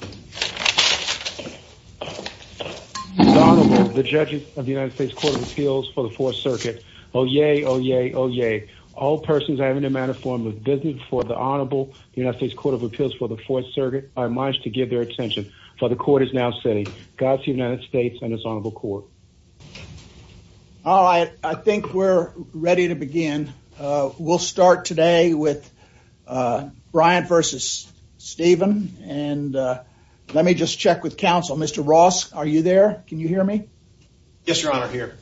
All right. I think we're ready to begin. We'll start today with Bryant versus Stephan and let me just check with counsel. Mr. Ross, are you there? Can you hear me? Yes, Your Honor, here.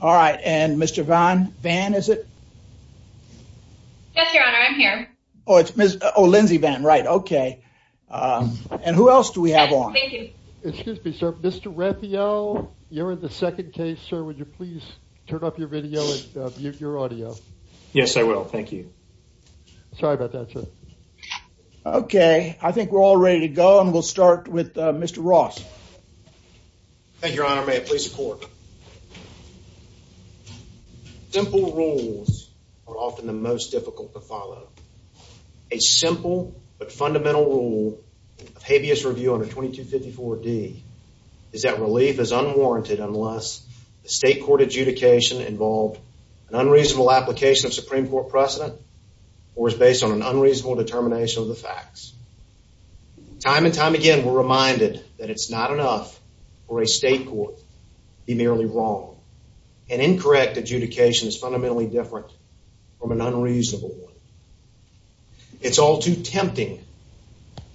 All right. And Mr. Van, Van, is it? Yes, Your Honor, I'm here. Oh, it's Ms. Oh, Lindsay Van, right. Okay. And who else do we have on? Thank you. Excuse me, sir. Mr. Refio, you're in the second case, sir. Would you please turn up your video and mute your audio? Yes, I will. Thank you. Sorry about that, sir. Okay. I think we're all ready to go. And we'll start with Mr. Ross. Thank you, Your Honor. May it please the court. Simple rules are often the most difficult to follow. A simple but fundamental rule of habeas review under 2254 D is that relief is unwarranted unless the state court adjudication involved an unreasonable application of Supreme Court precedent or is based on an unreasonable determination of the facts. Time and time again, we're reminded that it's not enough for a state court to be merely wrong. An incorrect adjudication is fundamentally different from an unreasonable one. It's all too tempting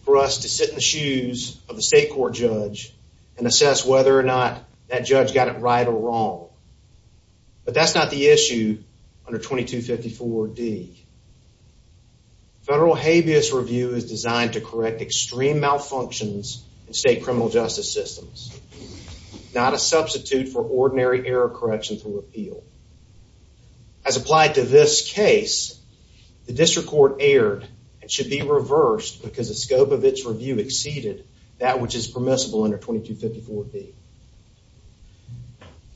for us to sit in the shoes of the state court judge and assess whether or not that judge got it right or wrong. But that's not the issue under 2254 D. Federal habeas review is designed to correct extreme malfunctions in state criminal justice systems, not a substitute for ordinary error correction through repeal. As applied to this case, the district court erred and should be reversed because the scope of its review exceeded that which is permissible under 2254 D.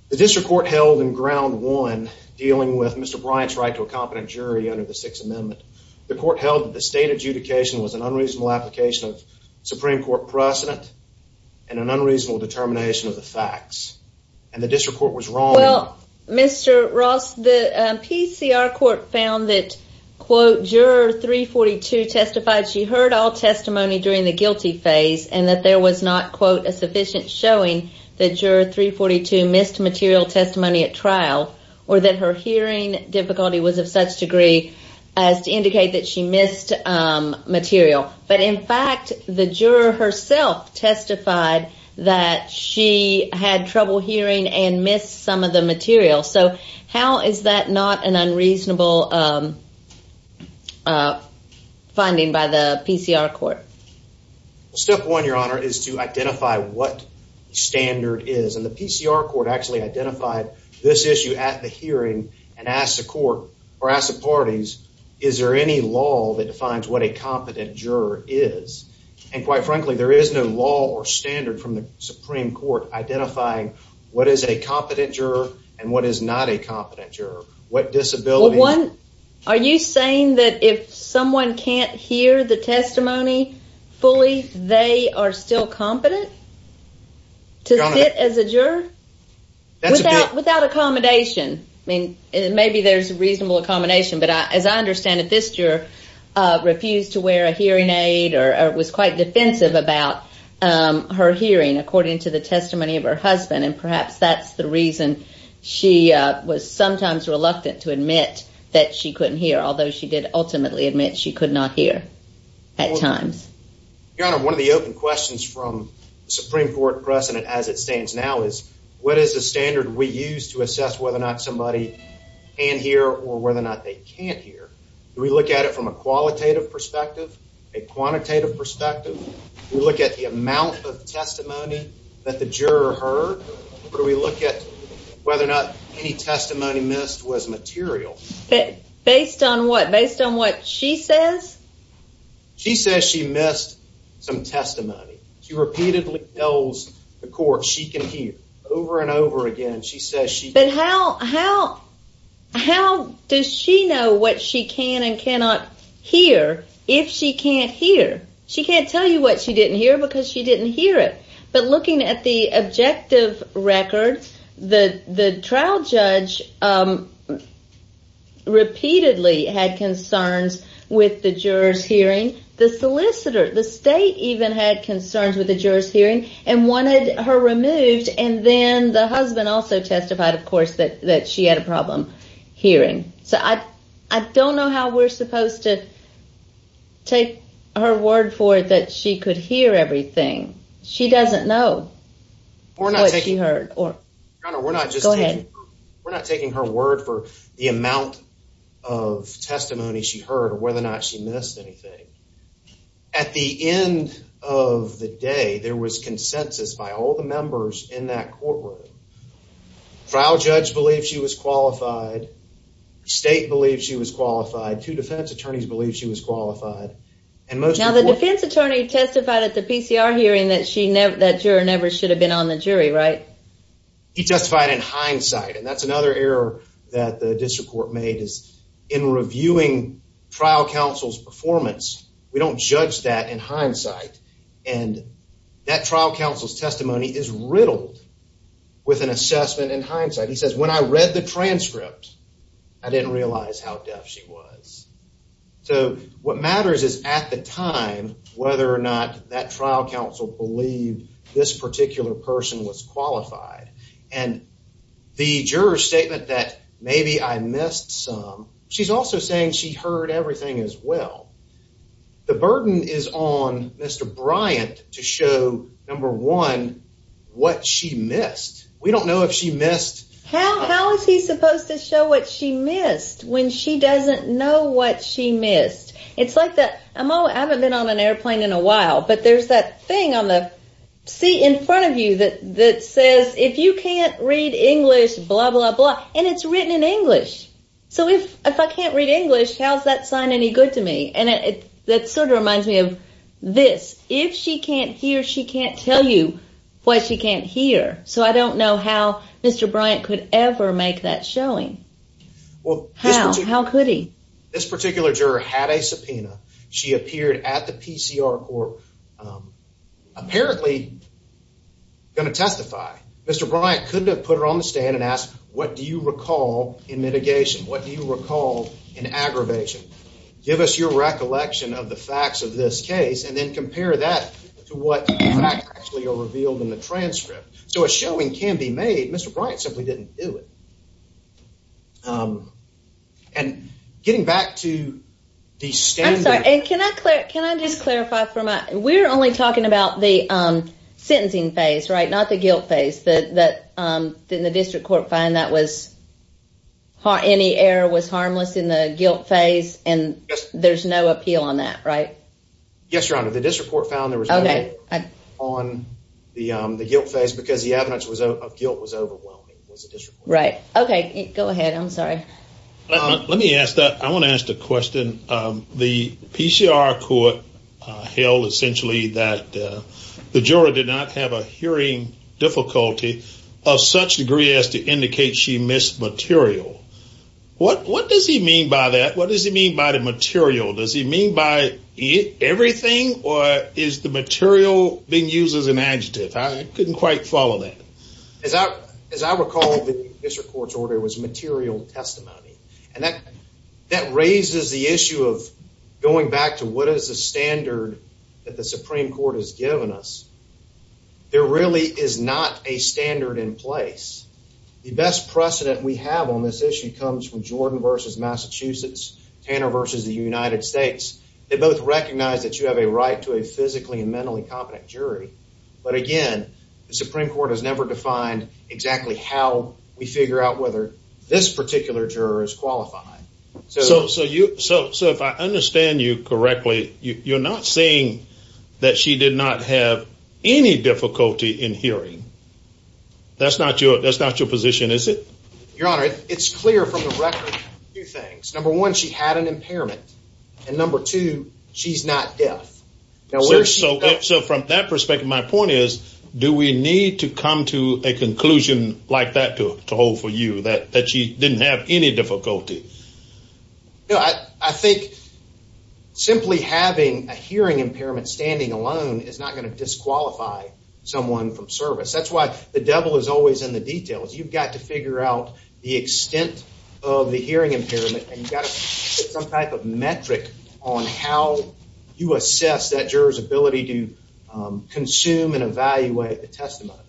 The district court held in ground one, dealing with Mr. Bryant's right to a competent jury under the Sixth Amendment, the court held that the state adjudication was an unreasonable application of Supreme Court precedent and an unreasonable determination of the facts. And the district court was wrong. Well, Mr. Ross, the PCR court found that, quote, juror 342 testified she heard all testimony during the guilty phase and that there was not, quote, a sufficient showing that juror 342 missed material testimony at trial or that her hearing difficulty was of such degree as to indicate that she missed material. But in fact, the juror herself testified that she had trouble hearing and missed some of the material. So how is that not an unreasonable finding by the PCR court? Well, step one, your honor, is to identify what standard is. And the PCR court actually identified this issue at the hearing and asked the court or asked the parties, is there any law that defines what a competent juror is? And quite frankly, there is no law or standard from the Supreme Court identifying what is a competent juror and what is not a competent juror. What disability? Well, one, are you saying that if someone can't hear the testimony fully, they are still competent? To sit as a juror without without accommodation? I mean, maybe there's a reasonable accommodation, but as I understand it, this juror refused to wear a hearing aid or was quite defensive about her hearing, according to the testimony of her husband. And perhaps that's the reason she was sometimes reluctant to admit that she couldn't hear, although she did ultimately admit she could not hear at times. Your honor, one of the open questions from the Supreme Court precedent as it stands now is, what is the standard we use to assess whether or not somebody can hear or whether or not they can't hear? Do we look at it from a qualitative perspective, a quantitative perspective? We look at the amount of testimony that the juror heard? Or do we look at whether or not any testimony missed was material? Based on what? Based on what she says? She says she missed some testimony. She repeatedly tells the court she can hear over and over again. She says she can't hear. But how does she know what she can and cannot hear if she can't hear? She can't tell you what she didn't hear because she didn't hear it. But looking at the objective record, the trial judge repeatedly had concerns with the juror's hearing. The solicitor, the state, even had concerns with the juror's hearing and wanted her removed, and then the husband also testified, of course, that she had a problem hearing. So I don't know how we're supposed to take her word for it that she could hear everything. She doesn't know what she heard. We're not taking her word for the amount of testimony she heard or whether or not she missed anything. At the end of the day, there was consensus by all the members in that courtroom. Trial judge believed she was qualified. State believed she was qualified. Two defense attorneys believed she was qualified. Now the defense attorney testified at the PCR hearing that that juror never should have been on the jury, right? He testified in hindsight, and that's another error that the district court made is in reviewing trial counsel's performance, we don't judge that in hindsight. And that trial counsel's testimony is riddled with an assessment in hindsight. He says, when I read the transcript, I didn't realize how deaf she was. So what matters is at the time, whether or not that trial counsel believed this particular person was qualified. And the juror's statement that maybe I missed some, she's also saying she heard everything as well. The burden is on Mr. Bryant to show, number one, what she missed. We don't know if she missed... I haven't been on an airplane in a while, but there's that thing on the seat in front of you that says, if you can't read English, blah, blah, blah. And it's written in English. So if I can't read English, how's that sign any good to me? And that sort of reminds me of this. If she can't hear, she can't tell you what she can't hear. So I don't know how Mr. Bryant could ever make that showing. How? How could he? This particular juror had a subpoena. She appeared at the PCR court, apparently going to testify. Mr. Bryant could have put her on the stand and asked, what do you recall in mitigation? What do you recall in aggravation? Give us your recollection of the facts of this case and then compare that to what facts actually are revealed in the transcript. So a showing can be made. Mr. Bryant simply didn't do it. And getting back to the standard... I'm sorry. Can I just clarify? We're only talking about the sentencing phase, right? Not the guilt phase. Didn't the district court find that any error was harmless in the guilt phase? And there's no appeal on that, right? Yes, Your Honor. The district court found there was no appeal on the guilt phase because the evidence of guilt was overwhelming. Right. OK, go ahead. I'm sorry. Let me ask that. I want to ask the question. The PCR court held essentially that the juror did not have a hearing difficulty of such degree as to indicate she missed material. What does he mean by that? What does he mean by the material? Does he mean by everything? Or is the material being used as an adjective? I couldn't quite follow that. As I recall, the district court's order was material testimony. And that raises the issue of going back to what is the standard that the Supreme Court has given us. There really is not a standard in place. The best precedent we have on this issue comes from Jordan versus Massachusetts, Tanner versus the United States. They both recognize that you have a right to a physically and mentally competent jury. But again, the Supreme Court has never defined exactly how we figure out whether this particular juror is qualified. So so you so so if I understand you correctly, you're not saying that she did not have any difficulty in hearing. That's not your that's not your position, is it? Your Honor, it's clear from the record two things. Number one, she had an impairment. And number two, she's not deaf. So from that perspective, my point is, do we need to come to a conclusion like that to hold for you that that she didn't have any difficulty? I think simply having a hearing impairment standing alone is not going to disqualify someone from service. That's why the devil is always in the details. You've got to figure out the extent of the hearing impairment. And you've got some type of metric on how you assess that jurors ability to consume and evaluate the testimony.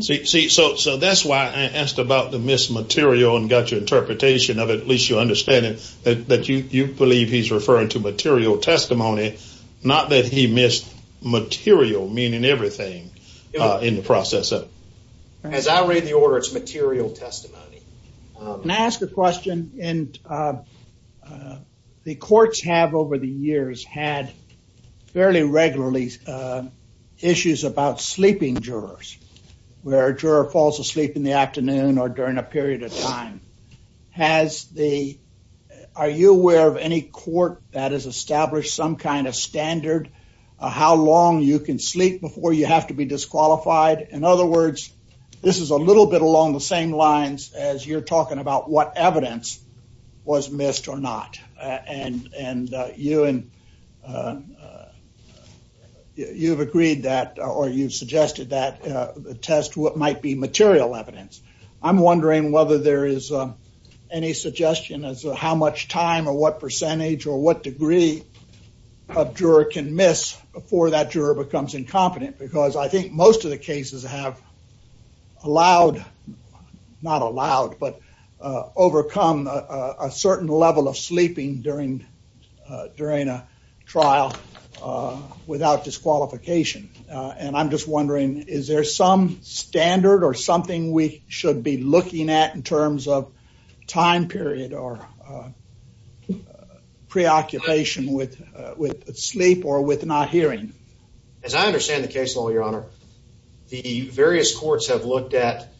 So that's why I asked about the missed material and got your interpretation of it. At least you understand that you believe he's referring to material testimony, not that he missed material, meaning everything in the process. As I read the order, it's material testimony. Can I ask a question? And the courts have over the years had fairly regularly issues about sleeping jurors, where a juror falls asleep in the afternoon or during a period of time. Are you aware of any court that has established some kind of standard, how long you can sleep before you have to be disqualified? In other words, this is a little bit along the same lines as you're talking about what evidence was missed or not. And you and you've agreed that or you've suggested that the test might be material evidence. I'm wondering whether there is any suggestion as to how much time or what percentage or what degree of juror can miss before that juror becomes incompetent. Because I think most of the cases have allowed, not allowed, but overcome a certain level of sleeping during a trial without disqualification. And I'm just wondering, is there some standard or something we should be looking at in terms of time period or preoccupation with sleep or with not hearing? As I understand the case law, Your Honor, the various courts have looked at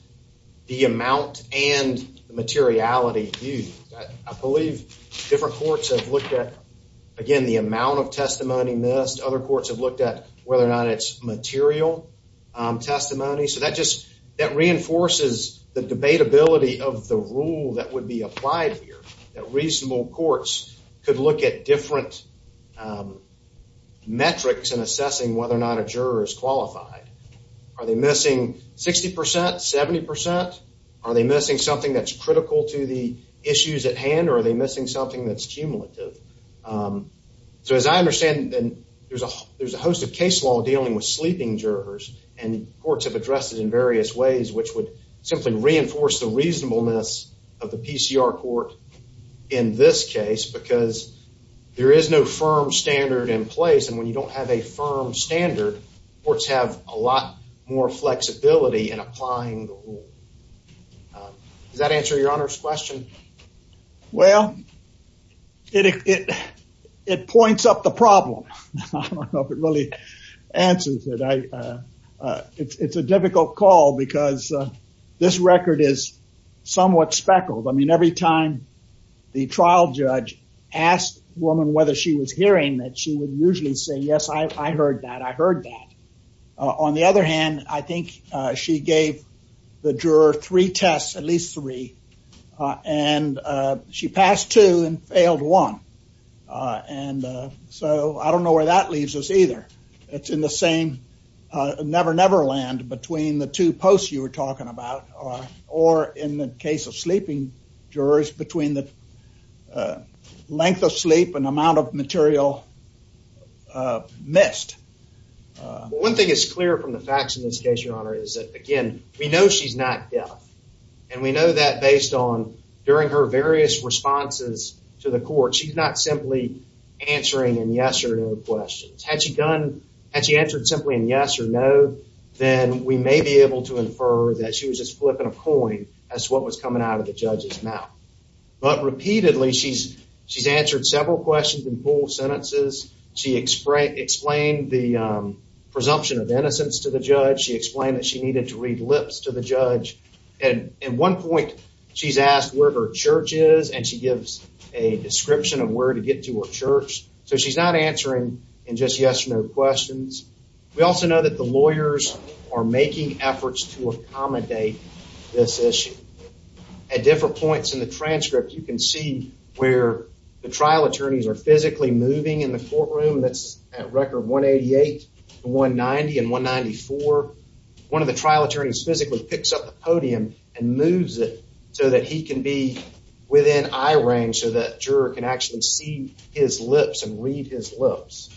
the amount and materiality. I believe different courts have looked at, again, the amount of testimony missed. Other courts have looked at whether or not it's material testimony. So that just, that reinforces the debatability of the rule that would be applied here. That reasonable courts could look at different metrics in assessing whether or not a juror is qualified. Are they missing 60%, 70%? Are they missing something that's critical to the issues at hand or are they missing something that's cumulative? So as I understand, there's a host of case law dealing with sleeping jurors and courts have addressed it in various ways, which would simply reinforce the reasonableness of the PCR court in this case because there is no firm standard in place. And when you don't have a firm standard, courts have a lot more flexibility in applying the rule. Does that answer Your Honor's question? Well, it points up the problem. I don't know if it really answers it. It's a difficult call because this record is somewhat speckled. I mean, every time the trial judge asked the woman whether she was hearing that, she would usually say, yes, I heard that. I heard that. On the other hand, I think she gave the juror three tests, at least three, and she passed two and failed one. And so I don't know where that leaves us either. It's in the same never never land between the two posts you were talking about or in the case of sleeping jurors between the length of sleep and amount of material missed. One thing is clear from the facts in this case, Your Honor, is that, again, we know she's not deaf. And we know that based on during her various responses to the court, she's not simply answering yes or no questions. Had she answered simply in yes or no, then we may be able to infer that she was just flipping a coin as to what was coming out of the judge's mouth. But repeatedly, she's answered several questions in full sentences. She explained the presumption of innocence to the judge. She explained that she needed to read lips to the judge. And at one point, she's asked where her church is, and she gives a description of where to get to her church. So she's not answering in just yes or no questions. We also know that the lawyers are making efforts to accommodate this issue. At different points in the transcript, you can see where the trial attorneys are physically moving in the courtroom. That's at record 188, 190, and 194. One of the trial attorneys physically picks up the podium and moves it so that he can be within eye range so that juror can actually see his lips and read his lips.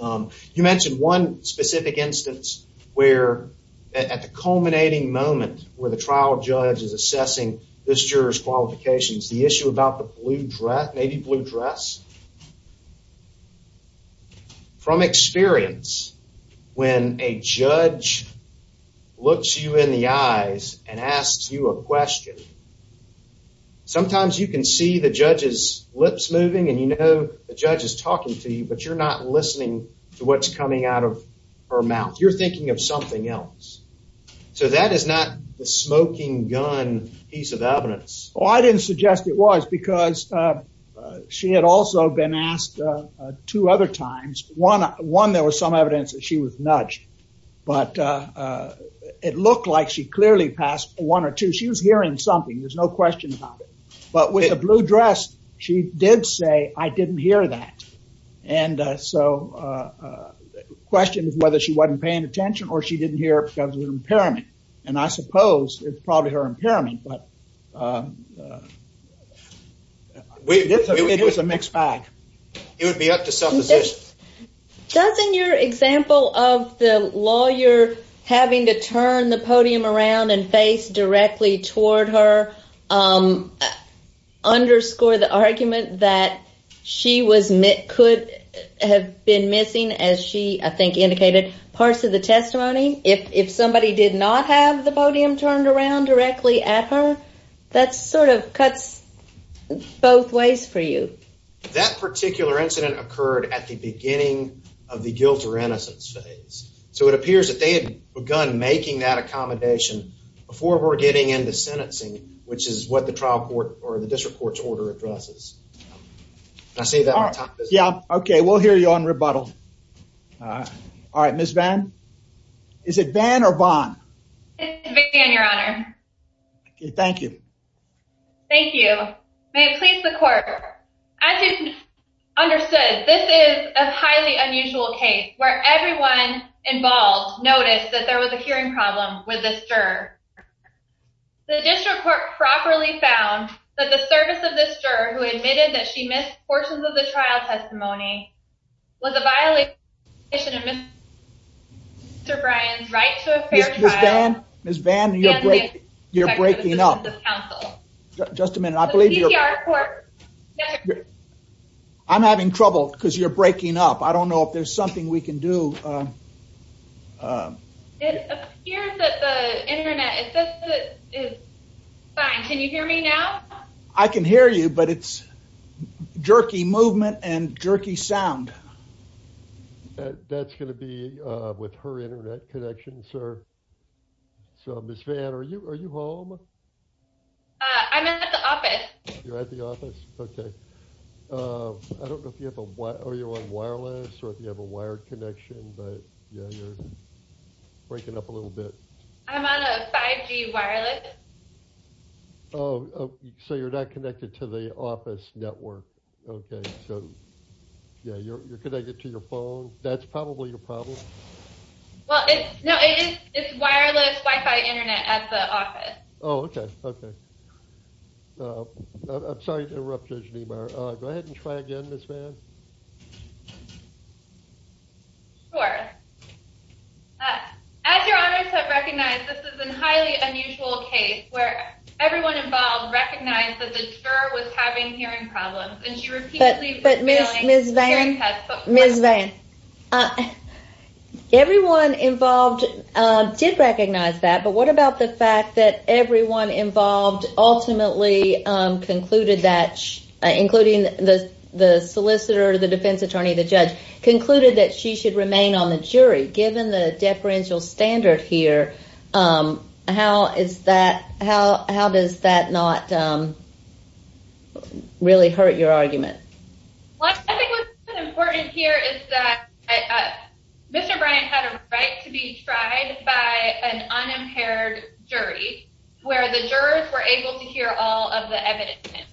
You mentioned one specific instance where, at the culminating moment where the trial judge is assessing this juror's qualifications, the issue about the blue dress, maybe blue dress. From experience, when a judge looks you in the eyes and asks you a question, sometimes you can see the judge's lips moving and you know the judge is talking to you, but you're not listening to what's coming out of her mouth. You're thinking of something else. So that is not the smoking gun piece of evidence. Well, I didn't suggest it was because she had also been asked two other times. One, there was some evidence that she was nudged, but it looked like she clearly passed one or two. So she was hearing something. There's no question about it. But with the blue dress, she did say, I didn't hear that. And so the question is whether she wasn't paying attention or she didn't hear it because of an impairment. And I suppose it's probably her impairment, but it was a mixed bag. It would be up to self-assessment. Doesn't your example of the lawyer having to turn the podium around and face directly toward her underscore the argument that she could have been missing, as she, I think, indicated parts of the testimony? If somebody did not have the podium turned around directly at her, that sort of cuts both ways for you. That particular incident occurred at the beginning of the guilt or innocence phase. So it appears that they had begun making that accommodation before we're getting into sentencing, which is what the trial court or the district court's order addresses. Did I say that on time? Yeah. Okay. We'll hear you on rebuttal. All right. Ms. Vann? Is it Vann or Vaughn? It's Vann, Your Honor. Okay. Thank you. Thank you. May it please the court, as you understood, this is a highly unusual case where everyone involved noticed that there was a hearing problem with this juror. The district court properly found that the service of this juror, who admitted that she missed portions of the trial testimony, was a violation of Mr. Bryan's right to a fair trial. Ms. Vann, you're breaking up. Just a minute. I'm having trouble because you're breaking up. I don't know if there's something we can do. It appears that the Internet is fine. Can you hear me now? I can hear you, but it's jerky movement and jerky sound. That's going to be with her Internet connection, sir. So, Ms. Vann, are you home? I'm at the office. You're at the office? Okay. I don't know if you're on wireless or if you have a wired connection, but, yeah, you're breaking up a little bit. I'm on a 5G wireless. Oh, so you're not connected to the office network. Okay. So, yeah, you're connected to your phone. That's probably your problem. Well, no, it's wireless Wi-Fi Internet at the office. Oh, okay, okay. I'm sorry to interrupt, Judge Niemeyer. Go ahead and try again, Ms. Vann. Sure. As your honors have recognized, this is a highly unusual case where everyone involved recognized that the juror was having hearing problems But, Ms. Vann, everyone involved did recognize that, but what about the fact that everyone involved ultimately concluded that, including the solicitor, the defense attorney, the judge, concluded that she should remain on the jury? Given the deferential standard here, how does that not really hurt your argument? I think what's important here is that Mr. Bryant had a right to be tried by an unimpaired jury where the jurors were able to hear all of the evidence.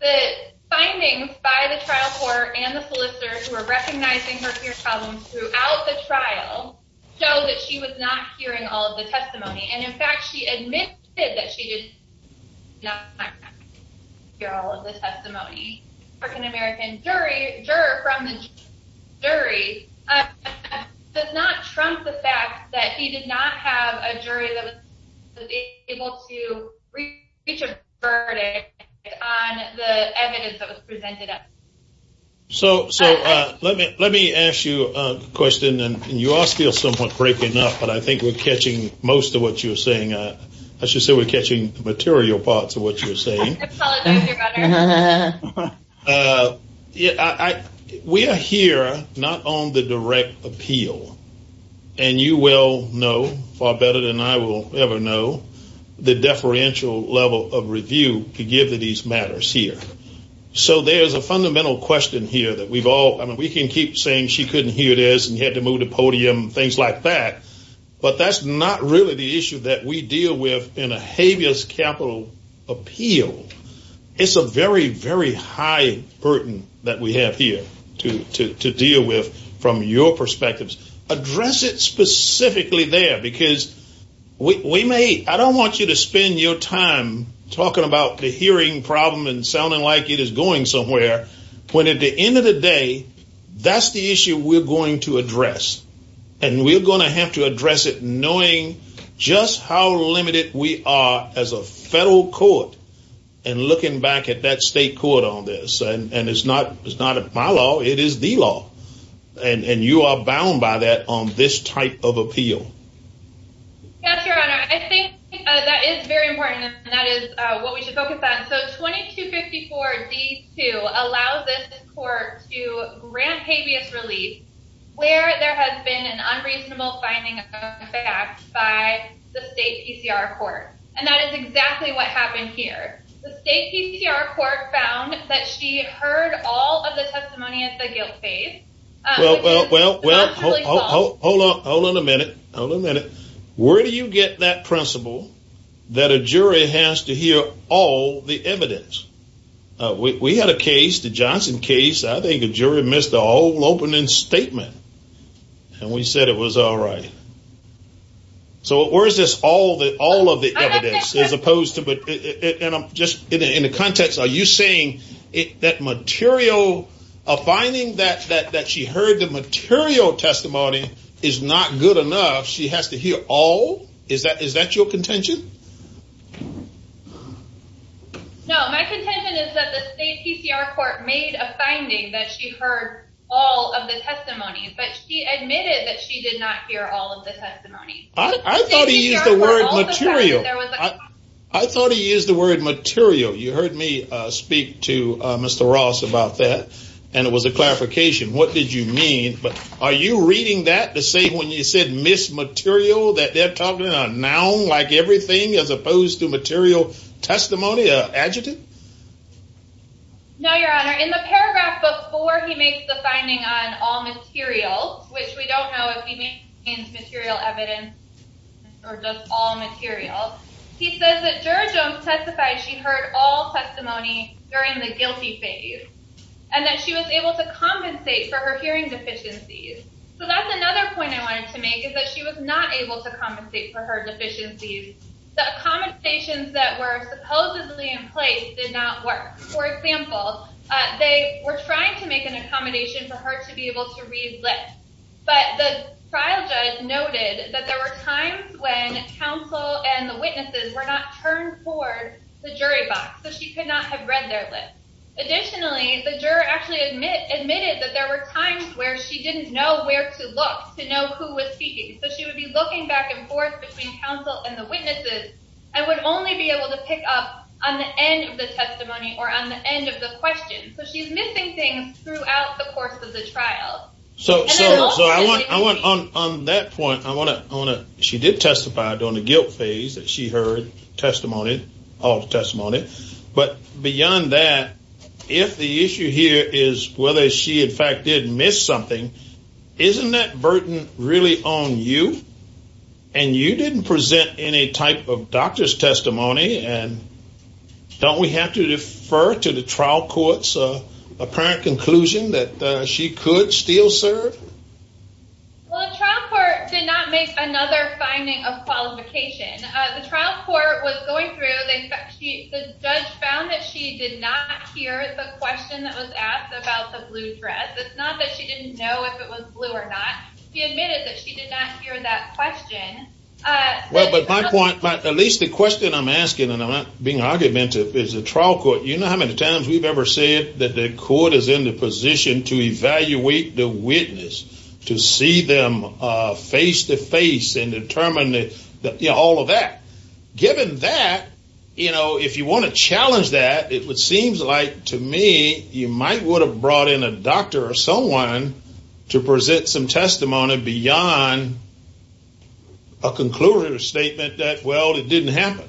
The findings by the trial court and the solicitor who are recognizing her problems throughout the trial show that she was not hearing all of the testimony. And, in fact, she admitted that she did not hear all of the testimony. The African-American juror from the jury does not trump the fact that he did not have a jury that was able to reach a verdict on the evidence that was presented. So let me ask you a question, and you are still somewhat breaking up, but I think we're catching most of what you're saying. I should say we're catching material parts of what you're saying. I apologize, Your Honor. We are here not on the direct appeal, and you well know, far better than I will ever know, the deferential level of review to give to these matters here. So there's a fundamental question here that we can keep saying she couldn't hear this and you had to move the podium and things like that, but that's not really the issue that we deal with in a habeas capital appeal. It's a very, very high burden that we have here to deal with from your perspectives. Address it specifically there because I don't want you to spend your time talking about the hearing problem and sounding like it is going somewhere when, at the end of the day, that's the issue we're going to address, and we're going to have to address it knowing just how limited we are as a federal court and looking back at that state court on this. And it's not my law. It is the law, and you are bound by that on this type of appeal. Yes, Your Honor. I think that is very important, and that is what we should focus on. So 2254-D2 allows this court to grant habeas relief where there has been an unreasonable finding of facts by the state PCR court, and that is exactly what happened here. The state PCR court found that she heard all of the testimony at the guilt phase. Well, hold on a minute. Hold on a minute. Where do you get that principle that a jury has to hear all the evidence? We had a case, the Johnson case. I think a jury missed the whole opening statement, and we said it was all right. So where is this all of the evidence as opposed to just in the context, are you saying that material, a finding that she heard the material testimony is not good enough, she has to hear all? Is that your contention? No, my contention is that the state PCR court made a finding that she heard all of the testimony, but she admitted that she did not hear all of the testimony. I thought he used the word material. I thought he used the word material. You heard me speak to Mr. Ross about that, and it was a clarification. What did you mean? Are you reading that the same when you said miss material that they're talking about now, like everything as opposed to material testimony, an adjective? No, Your Honor. In the paragraph before he makes the finding on all material, which we don't know if he means material evidence or just all material, he says that juror Jones testified she heard all testimony during the guilty phase and that she was able to compensate for her hearing deficiencies. So that's another point I wanted to make is that she was not able to compensate for her deficiencies. The accommodations that were supposedly in place did not work. For example, they were trying to make an accommodation for her to be able to read lips, but the trial judge noted that there were times when counsel and the witnesses were not turned toward the jury box, so she could not have read their lips. Additionally, the juror actually admitted that there were times where she didn't know where to look to know who was speaking. So she would be looking back and forth between counsel and the witnesses and would only be able to pick up on the end of the testimony or on the end of the question. So she's missing things throughout the course of the trial. So on that point, she did testify during the guilt phase that she heard testimony, all the testimony. But beyond that, if the issue here is whether she in fact did miss something, isn't that burden really on you? And you didn't present any type of doctor's testimony, and don't we have to defer to the trial court's apparent conclusion that she could still serve? Well, the trial court did not make another finding of qualification. The trial court was going through. The judge found that she did not hear the question that was asked about the blue dress. It's not that she didn't know if it was blue or not. She admitted that she did not hear that question. Well, but my point, at least the question I'm asking, and I'm not being argumentative, is the trial court, you know how many times we've ever said that the court is in the position to evaluate the witness, to see them face-to-face and determine all of that? Given that, if you want to challenge that, it seems like to me you might would have brought in a doctor or someone to present some testimony beyond a concluding statement that, well, it didn't happen.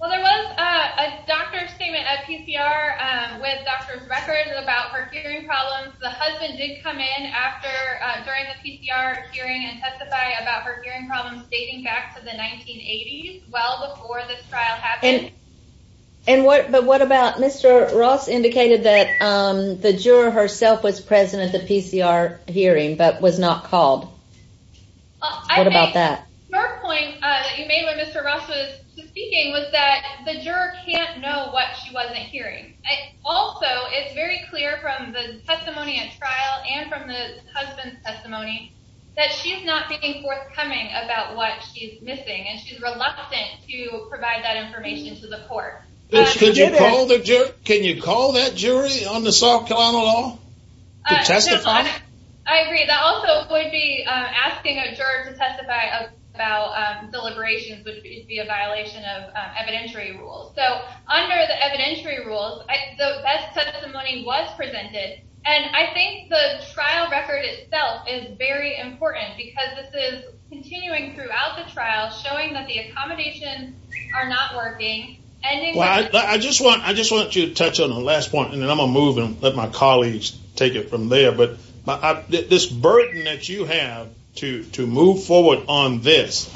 Well, there was a doctor's statement at PCR with doctor's records about her hearing problems. The husband did come in during the PCR hearing and testify about her hearing problems dating back to the 1980s, well before this trial happened. But what about Mr. Ross indicated that the juror herself was present at the PCR hearing but was not called? What about that? Her point that you made when Mr. Ross was speaking was that the juror can't know what she wasn't hearing. Also, it's very clear from the testimony at trial and from the husband's testimony that she's not being forthcoming about what she's missing, and she's reluctant to provide that information to the court. Can you call that jury on the soft counter law to testify? I agree. That also would be asking a juror to testify about deliberations would be a violation of evidentiary rules. So under the evidentiary rules, the best testimony was presented, and I think the trial record itself is very important because this is continuing throughout the trial showing that the accommodations are not working. I just want you to touch on the last point, and then I'm going to move and let my colleagues take it from there. But this burden that you have to move forward on this,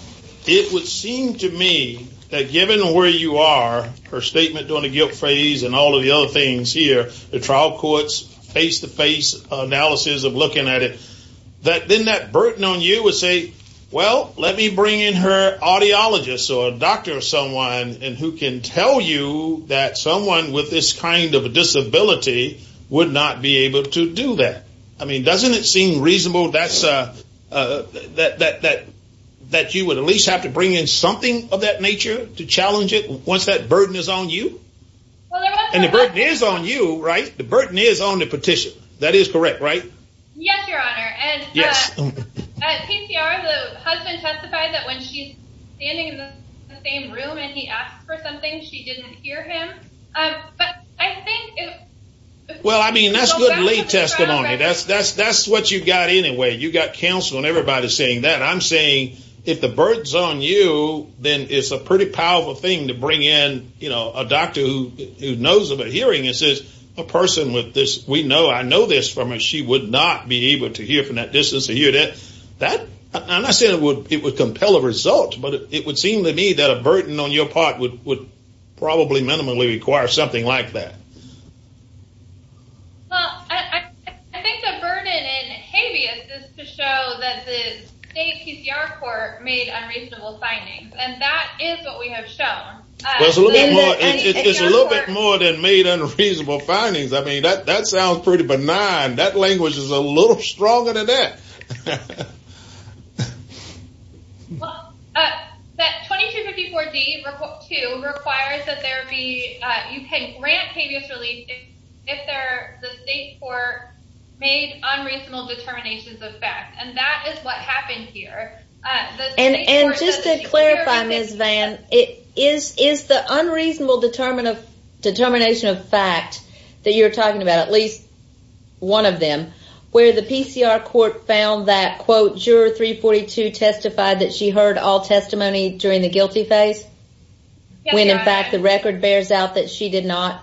it would seem to me that given where you are, her statement during the guilt phase and all of the other things here, the trial court's face-to-face analysis of looking at it, that then that burden on you would say, well, let me bring in her audiologist or a doctor or someone who can tell you that someone with this kind of disability would not be able to do that. I mean, doesn't it seem reasonable that you would at least have to bring in something of that nature to challenge it once that burden is on you? And the burden is on you, right? The burden is on the petition. That is correct, right? Yes, Your Honor. Yes. At PCR, the husband testified that when she's standing in the same room and he asked for something, she didn't hear him. But I think it – Well, I mean, that's good lay testimony. That's what you got anyway. You got counsel and everybody saying that. I'm saying if the burden's on you, then it's a pretty powerful thing to bring in a doctor who knows about hearing and says, a person with this, we know, I know this from her, she would not be able to hear from that distance or hear that. I'm not saying it would compel a result, but it would seem to me that a burden on your part would probably minimally require something like that. Well, I think the burden in habeas is to show that the state PCR court made unreasonable findings, and that is what we have shown. It's a little bit more than made unreasonable findings. I mean, that sounds pretty benign. That language is a little stronger than that. Well, that 2254D2 requires that there be – you can grant habeas relief if the state court made unreasonable determinations of fact, and that is what happened here. And just to clarify, Ms. Vann, is the unreasonable determination of fact that you're talking about, at least one of them, where the PCR court found that, quote, juror 342 testified that she heard all testimony during the guilty phase, when in fact the record bears out that she did not?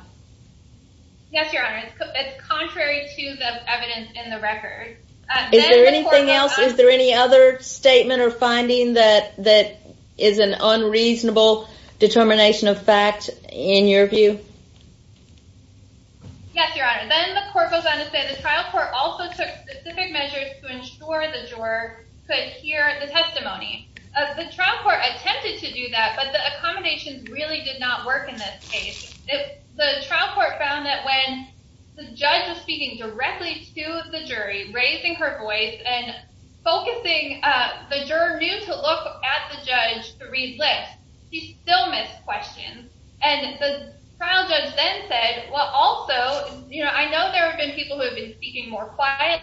Yes, Your Honor. It's contrary to the evidence in the record. Is there anything else? Is there any other statement or finding that is an unreasonable determination of fact in your view? Yes, Your Honor. Then the court goes on to say the trial court also took specific measures to ensure the juror could hear the testimony. The trial court attempted to do that, but the accommodations really did not work in this case. The trial court found that when the judge was speaking directly to the jury, raising her voice and focusing, the juror knew to look at the judge to read lips. She still missed questions. And the trial judge then said, well, also, you know, I know there have been people who have been speaking more quietly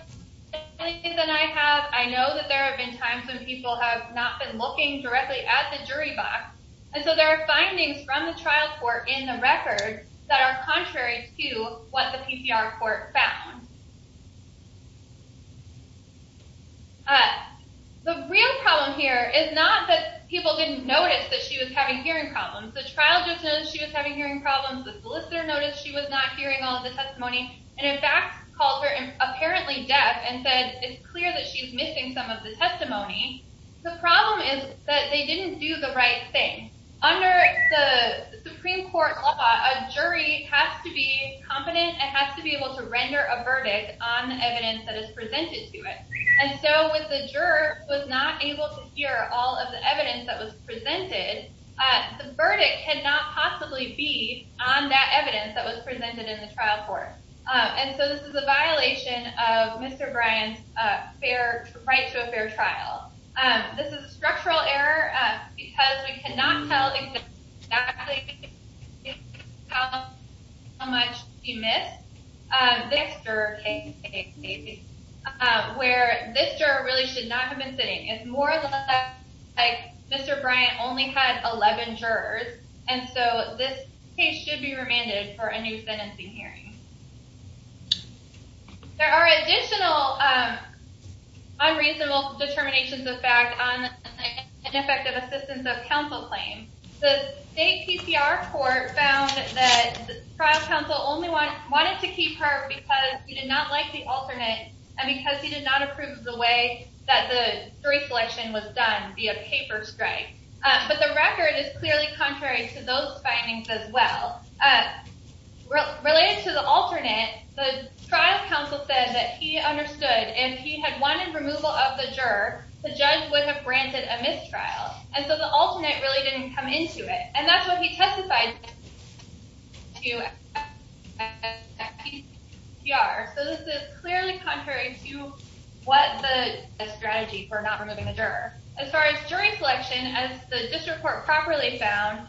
than I have. I know that there have been times when people have not been looking directly at the jury box. And so there are findings from the trial court in the record that are contrary to what the PCR court found. The real problem here is not that people didn't notice that she was having hearing problems. The trial judge noticed she was having hearing problems. The solicitor noticed she was not hearing all of the testimony. And in fact called her apparently deaf and said it's clear that she's missing some of the testimony. The problem is that they didn't do the right thing. Under the Supreme Court law, a jury has to be competent and has to be able to render a verdict on the evidence that is presented to it. And so when the juror was not able to hear all of the evidence that was presented, the verdict cannot possibly be on that evidence that was presented in the trial court. And so this is a violation of Mr. Bryant's right to a fair trial. This is a structural error because we cannot tell exactly how much she missed. This juror really should not have been sitting. It's more or less like Mr. Bryant only had 11 jurors. And so this case should be remanded for a new sentencing hearing. There are additional unreasonable determinations of fact on ineffective assistance of counsel claims. The state PCR court found that the trial counsel only wanted to keep her because he did not like the alternate and because he did not approve of the way that the jury selection was done via paper strike. But the record is clearly contrary to those findings as well. Related to the alternate, the trial counsel said that he understood if he had wanted removal of the juror, the judge would have granted a mistrial. And so the alternate really didn't come into it. And that's what he testified to at PCR. So this is clearly contrary to what the strategy for not removing the juror. As far as jury selection, as the district court properly found,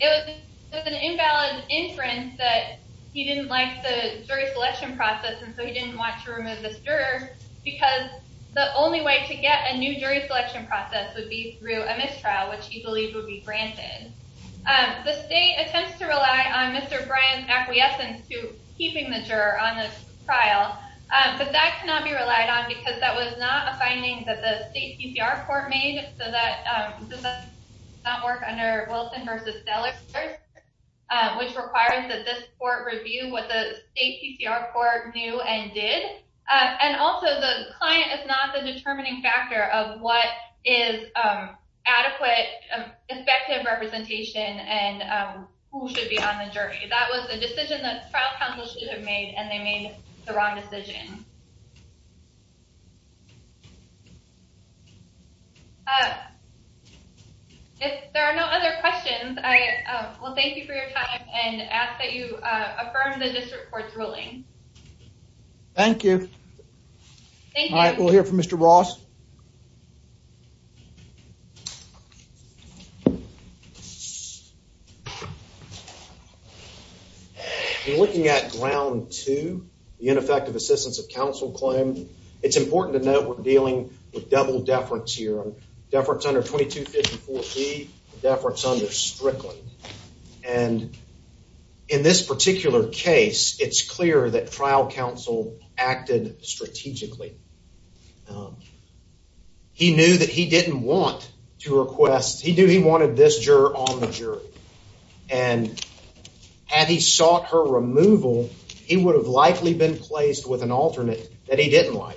it was an invalid inference that he didn't like the jury selection process, and so he didn't want to remove this juror because the only way to get a new jury selection process would be through a mistrial, which he believed would be granted. The state attempts to rely on Mr. Bryant's acquiescence to keeping the juror on the trial, but that cannot be relied on because that was not a finding that the state PCR court made. So that does not work under Wilson versus Dell, which requires that this court review what the state PCR court knew and did. And also the client is not the determining factor of what is adequate, effective representation and who should be on the jury. That was the decision that trial counsel should have made, and they made the wrong decision. If there are no other questions, I will thank you for your time and ask that you affirm the district court's ruling. Thank you. All right, we'll hear from Mr. Ross. We're looking at ground two, the ineffective assistance of counsel claim. It's important to note we're dealing with double deference here. Deference under 2254B, deference under Strickland. And in this particular case, it's clear that trial counsel acted strategically. He knew that he didn't want to request. He knew he wanted this juror on the jury, and had he sought her removal, he would have likely been placed with an alternate that he didn't like.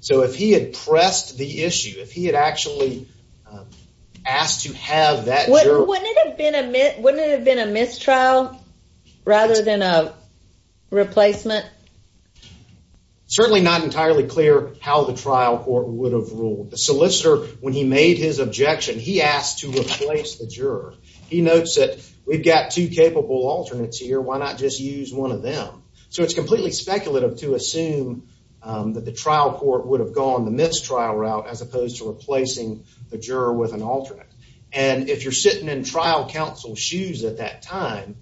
So if he had pressed the issue, if he had actually asked to have that juror. Wouldn't it have been a mistrial rather than a replacement? Certainly not entirely clear how the trial court would have ruled. The solicitor, when he made his objection, he asked to replace the juror. He notes that we've got two capable alternates here, why not just use one of them? So it's completely speculative to assume that the trial court would have gone the mistrial route as opposed to replacing the juror with an alternate. And if you're sitting in trial counsel's shoes at that time,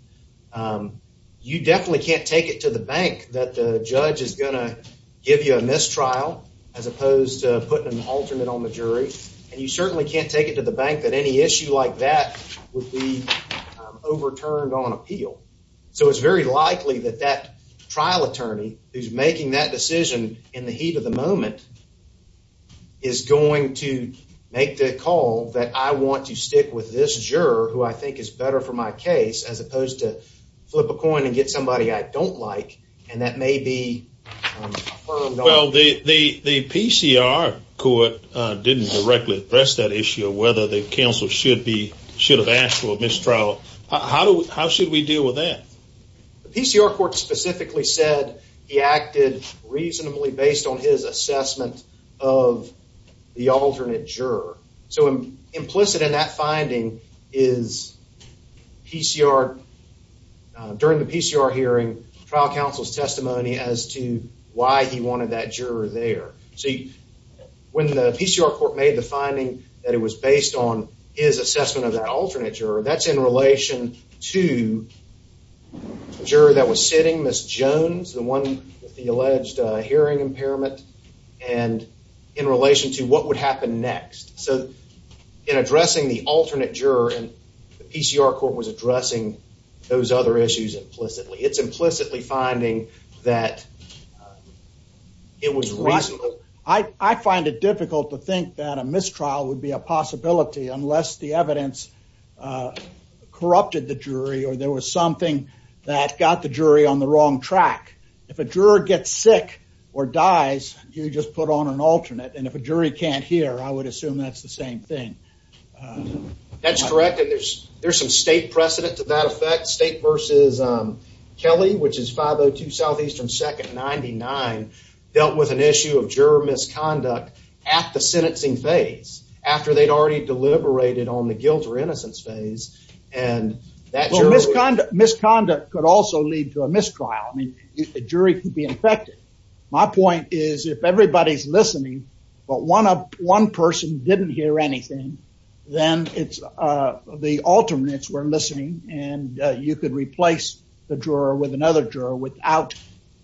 you definitely can't take it to the bank that the judge is going to give you a mistrial as opposed to putting an alternate on the jury. And you certainly can't take it to the bank that any issue like that would be overturned on appeal. So it's very likely that that trial attorney who's making that decision in the heat of the moment is going to make the call that I want to stick with this juror who I think is better for my case as opposed to flip a coin and get somebody I don't like, and that may be affirmed on appeal. Well, the PCR court didn't directly address that issue of whether the counsel should have asked for a mistrial. How should we deal with that? The PCR court specifically said he acted reasonably based on his assessment of the alternate juror. So implicit in that finding is during the PCR hearing, trial counsel's testimony as to why he wanted that juror there. So when the PCR court made the finding that it was based on his assessment of that alternate juror, that's in relation to the juror that was sitting, Ms. Jones, the one with the alleged hearing impairment, and in relation to what would happen next. So in addressing the alternate juror, the PCR court was addressing those other issues implicitly. It's implicitly finding that it was reasonably... corrupted the jury or there was something that got the jury on the wrong track. If a juror gets sick or dies, you just put on an alternate, and if a jury can't hear, I would assume that's the same thing. That's correct, and there's some state precedent to that effect. State versus Kelly, which is 502 Southeastern 2nd 99, dealt with an issue of juror misconduct at the sentencing phase. After they'd already deliberated on the guilt or innocence phase, and that... Misconduct could also lead to a mistrial. I mean, a jury could be infected. My point is if everybody's listening, but one person didn't hear anything, then it's the alternates were listening, and you could replace the juror with another juror without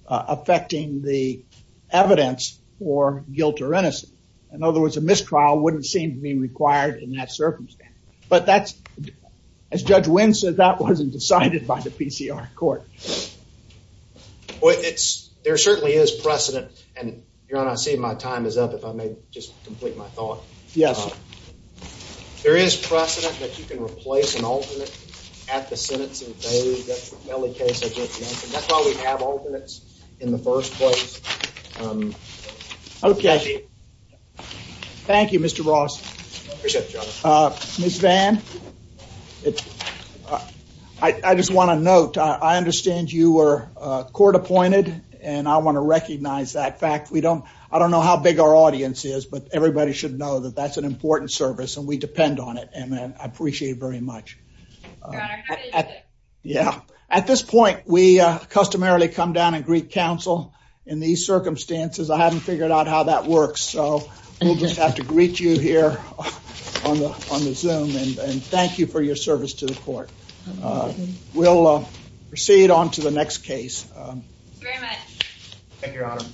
affecting the evidence for guilt or innocence. In other words, a mistrial wouldn't seem to be required in that circumstance. But that's... As Judge Wynn said, that wasn't decided by the PCR court. Well, it's... There certainly is precedent, and Your Honor, I see my time is up. If I may just complete my thought. Yes. There is precedent that you can replace an alternate at the sentencing phase. That's the Kelly case I just mentioned. That's why we have alternates in the first place. Okay. Thank you, Mr. Ross. I appreciate it, Your Honor. Ms. Vann. I just want to note, I understand you were court appointed, and I want to recognize that fact. We don't... I don't know how big our audience is, but everybody should know that that's an important service, and we depend on it. And I appreciate it very much. Your Honor, how did you get... Yeah. At this point, we customarily come down and greet counsel in these circumstances. I haven't figured out how that works, so we'll just have to greet you here on the Zoom. And thank you for your service to the court. We'll proceed on to the next case. Thank you very much. Thank you, Your Honor.